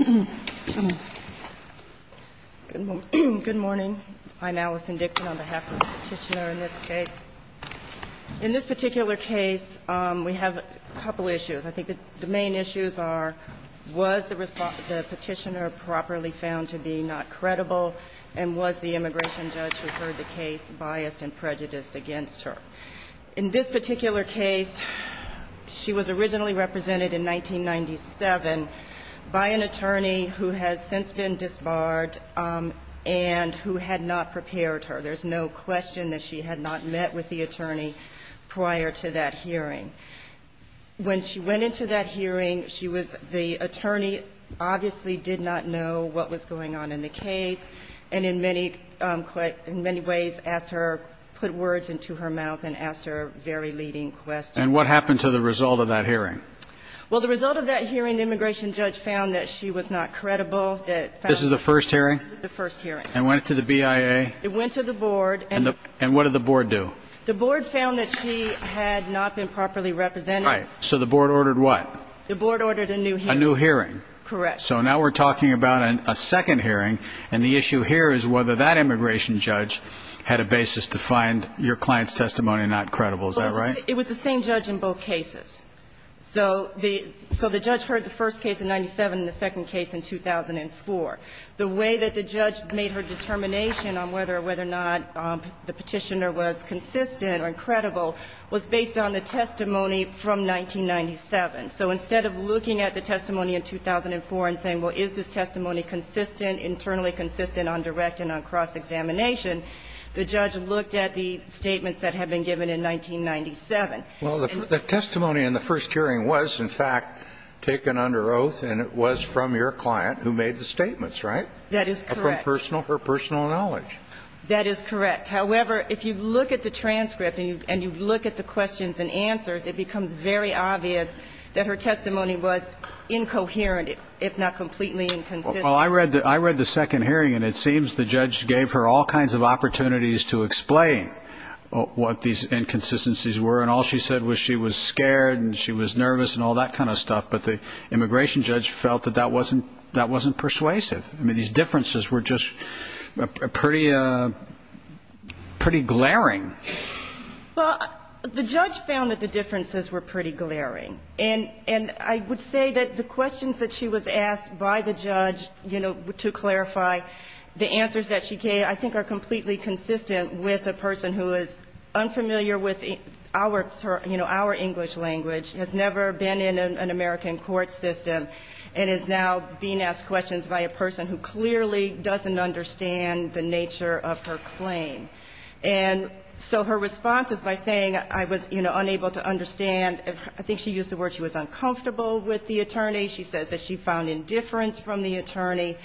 Good morning. I'm Allison Dixon on behalf of the Petitioner in this case. In this particular case, we have a couple issues. I think the main issues are, was the Petitioner properly found to be not credible and was the immigration judge who heard the case biased and prejudiced against her? In this particular case, she was originally represented in 1997 by an attorney who has since been disbarred and who had not prepared her. There's no question that she had not met with the attorney prior to that hearing. When she went into that hearing, she was the attorney obviously did not know what was going on in the case and in many ways asked her, put words into her mouth and asked her a very leading question. And what happened to the result of that hearing? Well, the result of that hearing, the immigration judge found that she was not credible. This is the first hearing? This is the first hearing. And went to the BIA? It went to the board. And what did the board do? The board found that she had not been properly represented. Right. So the board ordered what? The board ordered a new hearing. A new hearing. Correct. So now we're talking about a second hearing and the issue here is whether that immigration judge had a basis to find your client's testimony not credible. Is that right? It was the same judge in both cases. So the judge heard the first case in 97 and the second case in 2004. The way that the judge made her determination on whether or whether or not the Petitioner was consistent or incredible was based on the testimony from 1997. So instead of looking at the testimony in 2004 and saying, well, is this testimony consistent, internally consistent on direct and on cross-examination, the judge looked at the statements that had been given in 1997. Well, the testimony in the first hearing was, in fact, taken under oath and it was from your client who made the statements, right? That is correct. From her personal knowledge. That is correct. However, if you look at the transcript and you look at the questions and answers, it becomes very obvious that her testimony was incoherent, if not completely inconsistent. Well, I read the second hearing and it seems the judge gave her all kinds of answers. She said she was scared and she was nervous and all that kind of stuff, but the immigration judge felt that that wasn't persuasive. I mean, these differences were just pretty glaring. Well, the judge found that the differences were pretty glaring. And I would say that the questions that she was asked by the judge, you know, to clarify the answers that she gave, I think are completely consistent with a person who is unfamiliar with our, you know, our English language, has never been in an American court system, and is now being asked questions by a person who clearly doesn't understand the nature of her claim. And so her response is by saying, I was, you know, unable to understand. I think she used the word she was uncomfortable with the attorney. She says that she found indifference from the attorney.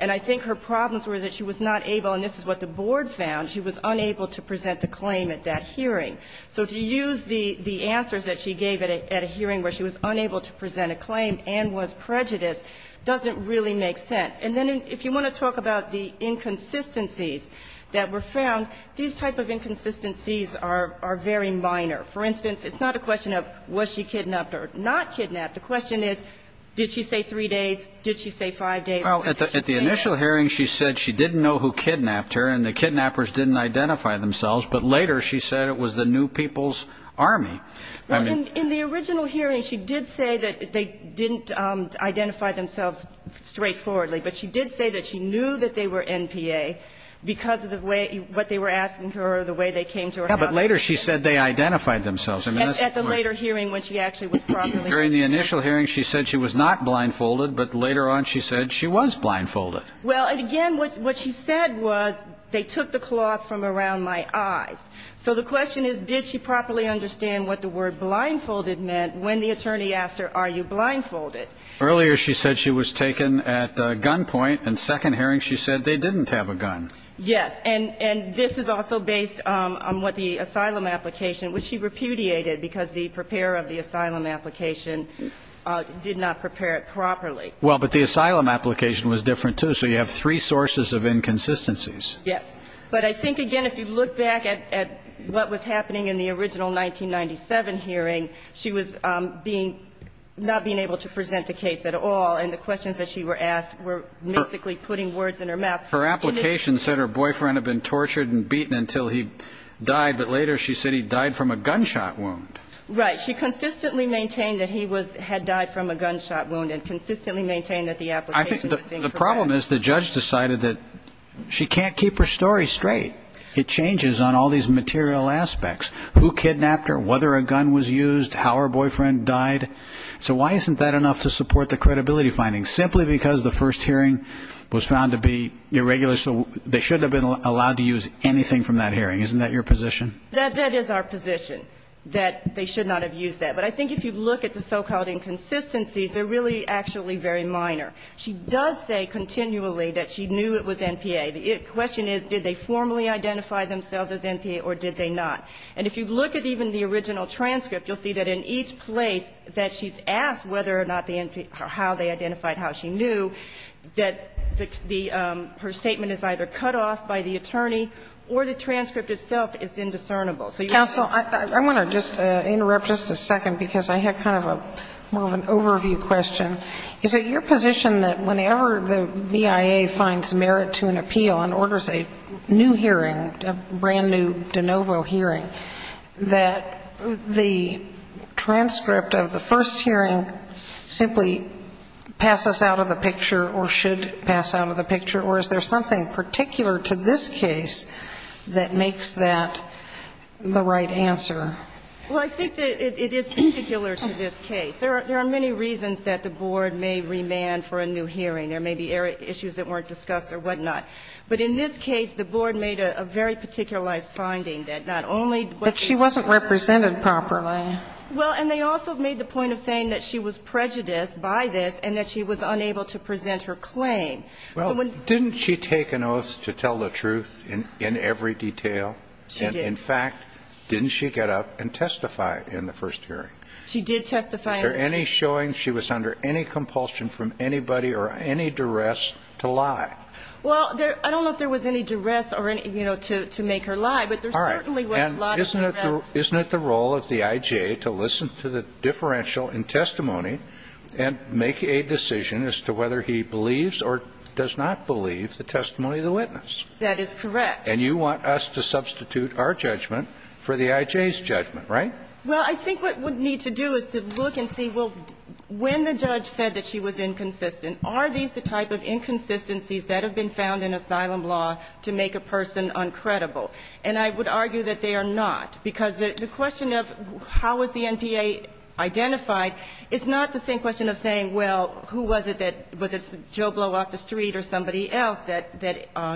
And I think her problems were that she was not able, and this is what the board found, she was unable to present the claim at that hearing. So to use the answers that she gave at a hearing where she was unable to present a claim and was prejudiced doesn't really make sense. And then if you want to talk about the inconsistencies that were found, these type of inconsistencies are very minor. For instance, it's not a question of was she kidnapped or not kidnapped. The question is, did she say three days? Did she say five days? Well, at the initial hearing, she said she didn't know who kidnapped her, and the kidnappers didn't identify themselves. But later, she said it was the New People's Army. Well, in the original hearing, she did say that they didn't identify themselves straightforwardly, but she did say that she knew that they were NPA because of the way what they were asking her or the way they came to her house. Yeah, but later she said they identified themselves. At the later hearing when she actually was properly. During the initial hearing, she said she was not blindfolded, but later on she said she was blindfolded. Well, and again, what she said was they took the cloth from around my eyes. So the question is, did she properly understand what the word blindfolded meant when the attorney asked her, are you blindfolded? Earlier, she said she was taken at gunpoint, and second hearing she said they didn't have a gun. Yes. And this is also based on what the asylum application, which she repudiated because the preparer of the asylum application did not prepare it properly. Well, but the asylum application was different too. So you have three sources of inconsistencies. Yes. But I think, again, if you look back at what was happening in the original 1997 hearing, she was not being able to present the case at all, and the questions that she were asked were basically putting words in her mouth. Her application said her boyfriend had been tortured and beaten until he died, but later she said he died from a gunshot wound. Right. But she consistently maintained that he had died from a gunshot wound and consistently maintained that the application was incorrect. I think the problem is the judge decided that she can't keep her story straight. It changes on all these material aspects. Who kidnapped her, whether a gun was used, how her boyfriend died. So why isn't that enough to support the credibility findings? Simply because the first hearing was found to be irregular, so they shouldn't have been allowed to use anything from that hearing. Isn't that your position? That is our position, that they should not have used that. But I think if you look at the so-called inconsistencies, they're really actually very minor. She does say continually that she knew it was NPA. The question is, did they formally identify themselves as NPA or did they not? And if you look at even the original transcript, you'll see that in each place that she's asked whether or not the NPA or how they identified how she knew, that the her statement is either cut off by the attorney or the transcript itself is indiscernible. So you're saying that's not the case. Sotomayor, I want to just interrupt just a second, because I had kind of a more of an overview question. Is it your position that whenever the BIA finds merit to an appeal and orders a new hearing, a brand-new de novo hearing, that the transcript of the first hearing simply passes out of the picture or should pass out of the picture? Or is there something particular to this case that makes that the right answer? Well, I think that it is particular to this case. There are many reasons that the Board may remand for a new hearing. There may be issues that weren't discussed or whatnot. But in this case, the Board made a very particularized finding that not only was she not represented properly. Well, and they also made the point of saying that she was prejudiced by this and that she was unable to present her claim. Well, didn't she take an oath to tell the truth in every detail? She did. In fact, didn't she get up and testify in the first hearing? She did testify. Was there any showing she was under any compulsion from anybody or any duress to lie? Well, I don't know if there was any duress, you know, to make her lie. But there certainly was a lot of duress. Isn't it the role of the I.J. to listen to the differential in testimony and make a decision as to whether he believes or does not believe the testimony of the witness? That is correct. And you want us to substitute our judgment for the I.J.'s judgment, right? Well, I think what we need to do is to look and see, well, when the judge said that she was inconsistent, are these the type of inconsistencies that have been found in asylum law to make a person uncredible? And I would argue that they are not. Because the question of how was the NPA identified is not the same question of saying, well, who was it that, was it Joe Blow out the street or somebody else that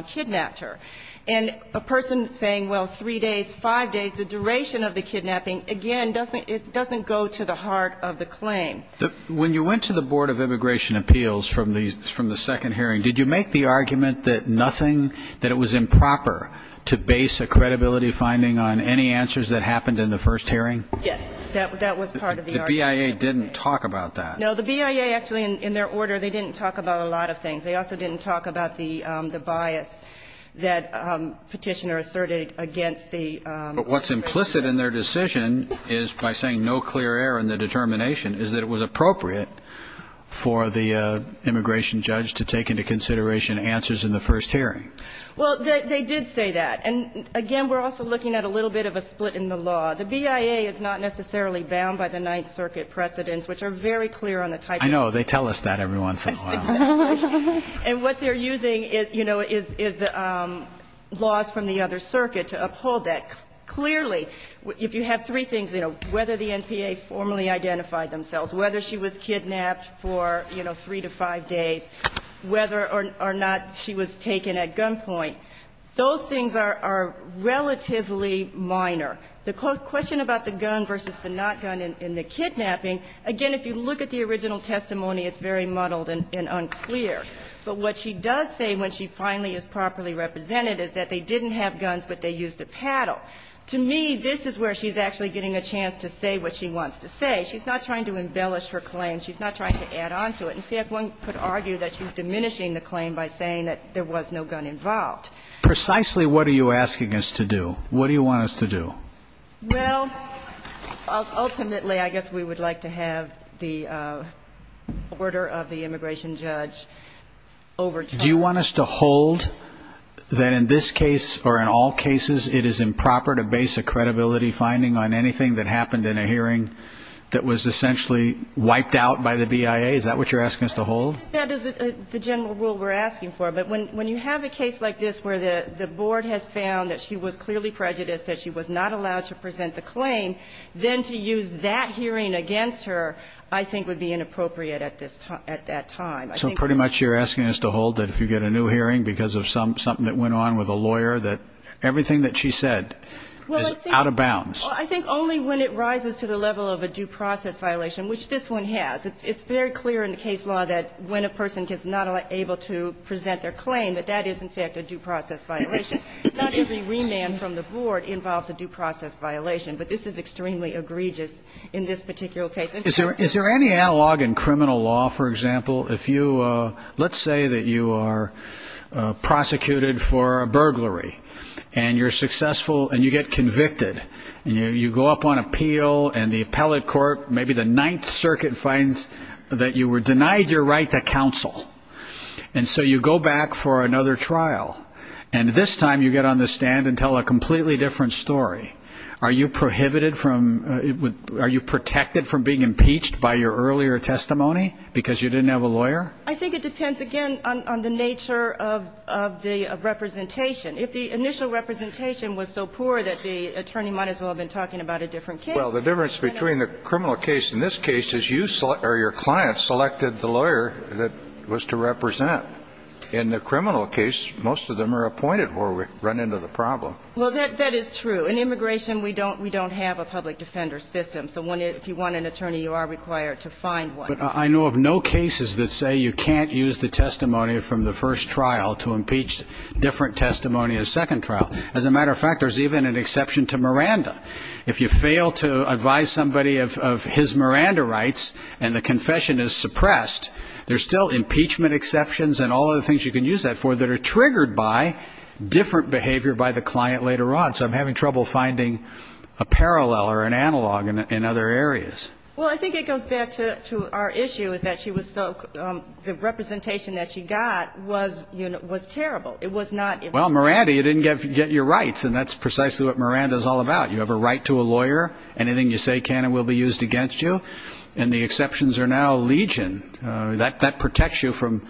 kidnapped her? And a person saying, well, three days, five days, the duration of the kidnapping, again, it doesn't go to the heart of the claim. When you went to the Board of Immigration Appeals from the second hearing, did you make the argument that nothing, that it was improper to base a credibility finding on any answers that happened in the first hearing? Yes, that was part of the argument. The BIA didn't talk about that. No, the BIA, actually, in their order, they didn't talk about a lot of things. They also didn't talk about the bias that Petitioner asserted against the immigration judge. But what's implicit in their decision is, by saying no clear error in the determination, is that it was appropriate for the immigration judge to take into consideration answers in the first hearing. Well, they did say that. And, again, we're also looking at a little bit of a split in the law. The BIA is not necessarily bound by the Ninth Circuit precedents, which are very clear on the type of law. I know. They tell us that every once in a while. And what they're using, you know, is the laws from the other circuit to uphold that. Clearly, if you have three things, you know, whether the NPA formally identified themselves, whether she was kidnapped for, you know, three to five days, whether or not she was taken at gunpoint, those things are relatively minor. The question about the gun versus the not gun in the kidnapping, again, if you look at the original testimony, it's very muddled and unclear. But what she does say when she finally is properly represented is that they didn't have guns, but they used a paddle. To me, this is where she's actually getting a chance to say what she wants to say. She's not trying to embellish her claim. She's not trying to add on to it. In fact, one could argue that she's diminishing the claim by saying that there was no gun involved. Precisely what are you asking us to do? What do you want us to do? Well, ultimately, I guess we would like to have the order of the immigration judge over to us. Do you want us to hold that in this case or in all cases, it is improper to base a credibility finding on anything that happened in a hearing that was essentially wiped out by the BIA? Is that what you're asking us to hold? That is the general rule we're asking for. But when you have a case like this where the board has found that she was clearly prejudiced, that she was not allowed to present the claim, then to use that hearing against her, I think, would be inappropriate at this time, at that time. So pretty much you're asking us to hold that if you get a new hearing because of something that went on with a lawyer, that everything that she said is out of bounds. Well, I think only when it rises to the level of a due process violation, which this one has. It's very clear in the case law that when a person is not able to present their claim, that that is, in fact, a due process violation. Not every remand from the board involves a due process violation, but this is extremely egregious in this particular case. Is there any analog in criminal law, for example, if you, let's say that you are prosecuted for a burglary and you're successful and you get convicted, and you go up on appeal and the appellate court, maybe the Ninth Circuit, finds that you were denied your right to counsel. And so you go back for another trial and this time you get on the stand and tell a completely different story. Are you prohibited from, are you protected from being impeached by your earlier testimony because you didn't have a lawyer? I think it depends, again, on the nature of the representation. If the initial representation was so poor that the attorney might as well have been talking about a different case. Well, the difference between the criminal case in this case is you, or your client, selected the lawyer that was to represent. In the criminal case, most of them are appointed or run into the problem. Well, that is true. In immigration, we don't have a public defender system. So if you want an attorney, you are required to find one. But I know of no cases that say you can't use the testimony from the first trial to impeach different testimony of the second trial. As a matter of fact, there's even an exception to Miranda. If you fail to advise somebody of his Miranda rights and the confession is suppressed, there's still impeachment exceptions and all other things you can use that for that are triggered by different behavior by the client later on. So I'm having trouble finding a parallel or an analog in other areas. Well, I think it goes back to our issue is that she was so, the representation that she got was terrible. It was not. Well, Miranda, you didn't get your rights. And that's precisely what Miranda is all about. You have a right to a lawyer. Anything you say can and will be used against you. And the exceptions are now legion. That protects you from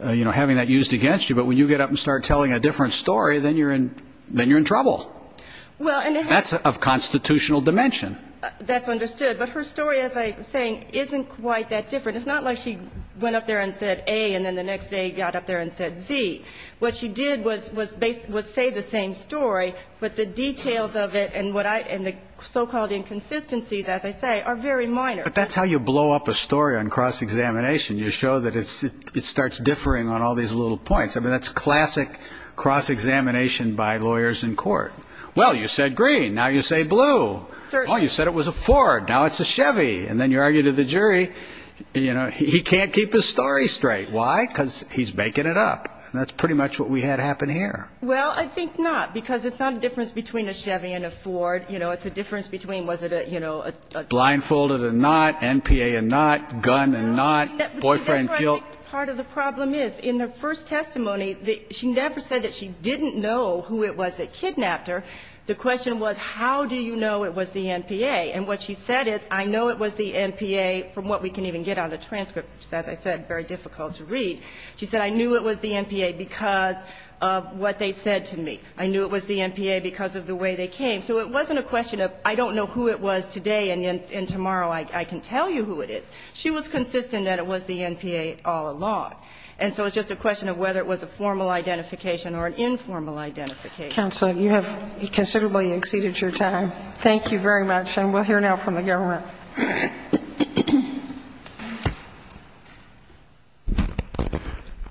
having that used against you. But when you get up and start telling a different story, then you're in trouble. That's of constitutional dimension. That's understood. But her story, as I was saying, isn't quite that different. It's not like she went up there and said A, and then the next day got up there and said Z. What she did was say the same story, but the details of it and the so-called inconsistencies, as I say, are very minor. But that's how you blow up a story on cross-examination. You show that it starts differing on all these little points. I mean, that's classic cross-examination by lawyers in court. Well, you said green. Now you say blue. Oh, you said it was a Ford. Now it's a Chevy. And then you argue to the jury, he can't keep his story straight. Why? Because he's making it up. That's pretty much what we had happen here. Well, I think not, because it's not a difference between a Chevy and a Ford. You know, it's a difference between was it a, you know, a ---- Blindfolded and not, NPA and not, gun and not, boyfriend killed. That's where I think part of the problem is. In the first testimony, she never said that she didn't know who it was that kidnapped her. The question was, how do you know it was the NPA? And what she said is, I know it was the NPA from what we can even get on the transcript, which is, as I said, very difficult to read. She said, I knew it was the NPA because of what they said to me. I knew it was the NPA because of the way they came. So it wasn't a question of, I don't know who it was today and tomorrow I can tell you who it is. She was consistent that it was the NPA all along. And so it's just a question of whether it was a formal identification or an informal identification. Counsel, you have considerably exceeded your time. Thank you very much. And we'll hear now from the government.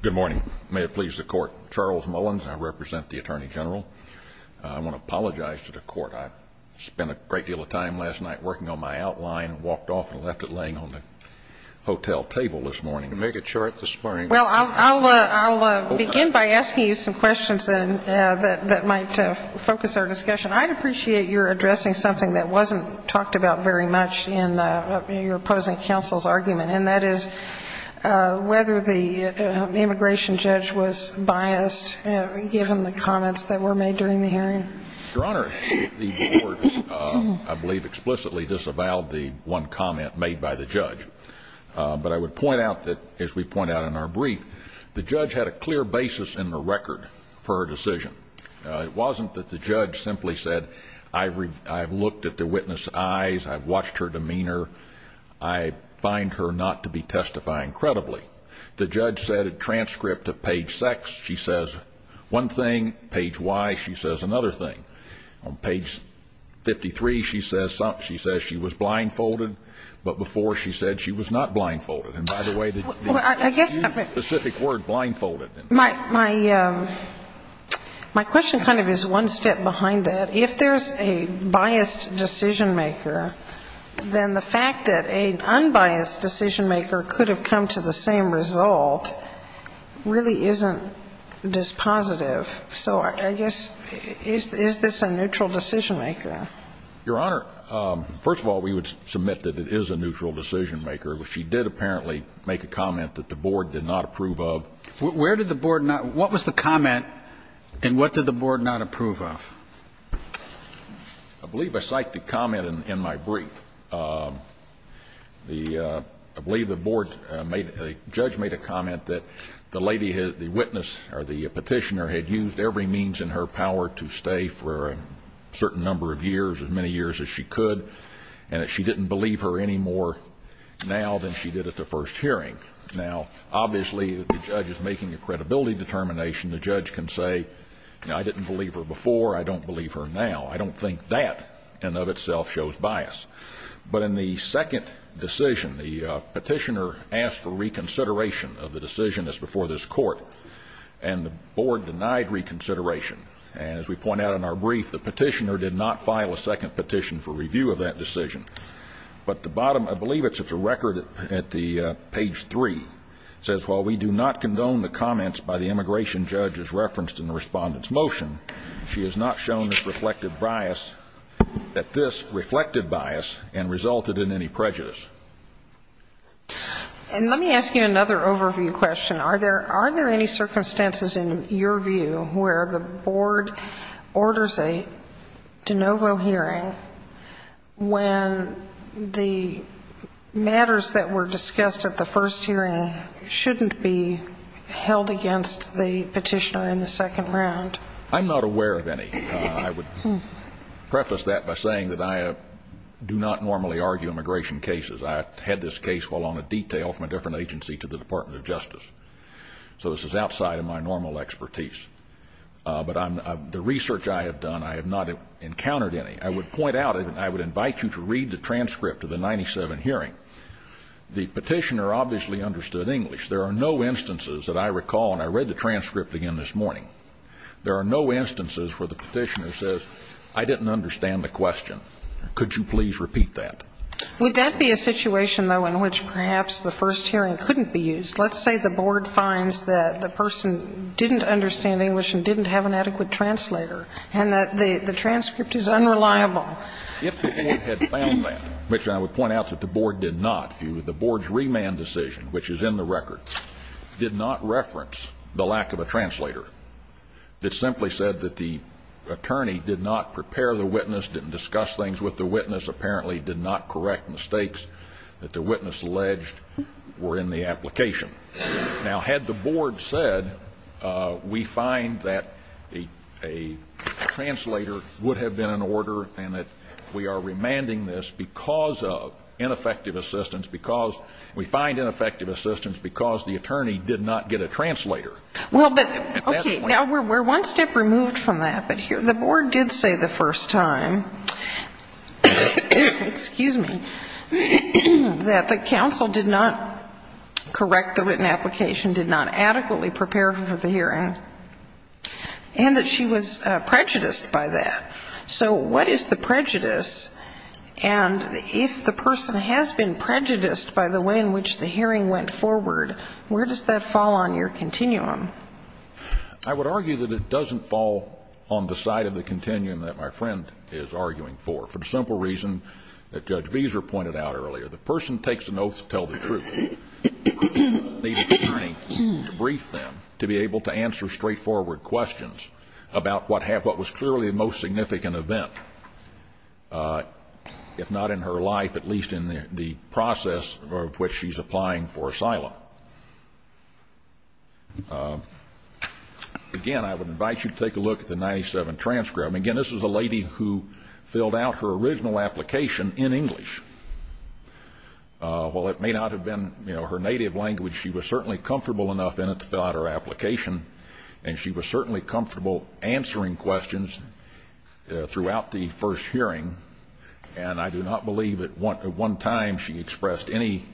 Good morning. May it please the court. Charles Mullins, I represent the Attorney General. I want to apologize to the court. I spent a great deal of time last night working on my outline, walked off, and left it laying on the hotel table this morning. Make it short this morning. Well, I'll begin by asking you some questions that might focus our discussion. I'd appreciate your addressing something that wasn't talked about very much in your opposing counsel's argument. And that is whether the immigration judge was biased given the comments that were made during the hearing. Your Honor, the board, I believe, explicitly disavowed the one comment made by the judge. But I would point out that, as we point out in our brief, the judge had a clear basis in the record for her decision. It wasn't that the judge simply said, I've looked at the witness' eyes, I've watched her demeanor, I find her not to be testifying credibly. The judge said at transcript at page 6, she says one thing. Page Y, she says another thing. On page 53, she says she was blindfolded. But before, she said she was not blindfolded. And by the way, the specific word, blindfolded. My question kind of is one step behind that. If there's a biased decision-maker, then the fact that an unbiased decision-maker could have come to the same result really isn't this positive. So I guess, is this a neutral decision-maker? Your Honor, first of all, we would submit that it is a neutral decision-maker. She did apparently make a comment that the board did not approve of. Where did the board not – what was the comment and what did the board not approve of? I believe I cite the comment in my brief. The – I believe the board made – the judge made a comment that the lady – the witness or the petitioner had used every means in her power to stay for a certain number of years, as many years as she could, and that she didn't believe her any more now than she did at the first hearing. Now, obviously, the judge is making a credibility determination. The judge can say, you know, I didn't believe her before, I don't believe her now. I don't think that, in and of itself, shows bias. But in the second decision, the petitioner asked for reconsideration of the decision that's before this court, and the board denied reconsideration. And as we point out in our brief, the petitioner did not file a second petition for review of that decision. But the bottom – I believe it's a record at the – page 3 – says, well, we do not And let me ask you another overview question. Are there – are there any circumstances, in your view, where the board orders a de novo hearing when the matters that were discussed at the first hearing shouldn't be held against the petitioner in the second round? I'm not aware of any. I would preface that by saying that I do not normally argue immigration cases. I had this case while on a detail from a different agency to the Department of Justice. So this is outside of my normal expertise. But I'm – the research I have done, I have not encountered any. I would point out, and I would invite you to read the transcript of the 1997 hearing, the petitioner obviously understood English. There are no instances that I recall – and I read the transcript again this morning – there are no instances where the petitioner says, I didn't understand the question. Could you please repeat that? Would that be a situation, though, in which perhaps the first hearing couldn't be used? Let's say the board finds that the person didn't understand English and didn't have an adequate translator, and that the transcript is unreliable. If the board had found that, which I would point out that the board did not view, the record did not reference the lack of a translator. It simply said that the attorney did not prepare the witness, didn't discuss things with the witness, apparently did not correct mistakes that the witness alleged were in the application. Now, had the board said, we find that a translator would have been in order and that we are remanding this because of ineffective assistance, because we find ineffective assistance because the attorney did not get a translator. Well, but, okay, now we're one step removed from that, but the board did say the first time, excuse me, that the counsel did not correct the written application, did not adequately prepare for the hearing, and that she was prejudiced by that. So what is the prejudice? And if the person has been prejudiced by the way in which the hearing went forward, where does that fall on your continuum? I would argue that it doesn't fall on the side of the continuum that my friend is arguing for, for the simple reason that Judge Beezer pointed out earlier. The person takes an oath to tell the truth, the attorney debriefs them to be able to answer That is a most significant event, if not in her life, at least in the process of which she's applying for asylum. Again, I would invite you to take a look at the 97 transcript. Again, this is a lady who filled out her original application in English. While it may not have been, you know, her native language, she was certainly comfortable enough in it to fill out her application, and she was certainly comfortable answering questions throughout the first hearing. And I do not believe at one time she expressed any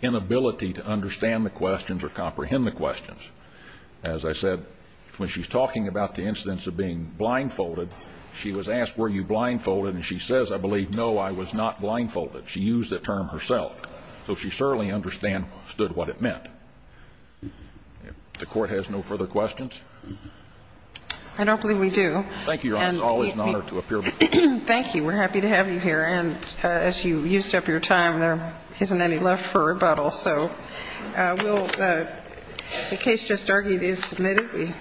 inability to understand the questions or comprehend the questions. As I said, when she's talking about the incidents of being blindfolded, she was asked, were you blindfolded? And she says, I believe, no, I was not blindfolded. She used the term herself. So she certainly understood what it meant. The Court has no further questions? I don't believe we do. Thank you, Your Honor. It's always an honor to appear before you. Thank you. We're happy to have you here. And as you used up your time, there isn't any left for rebuttal. So we'll the case just argued is submitted.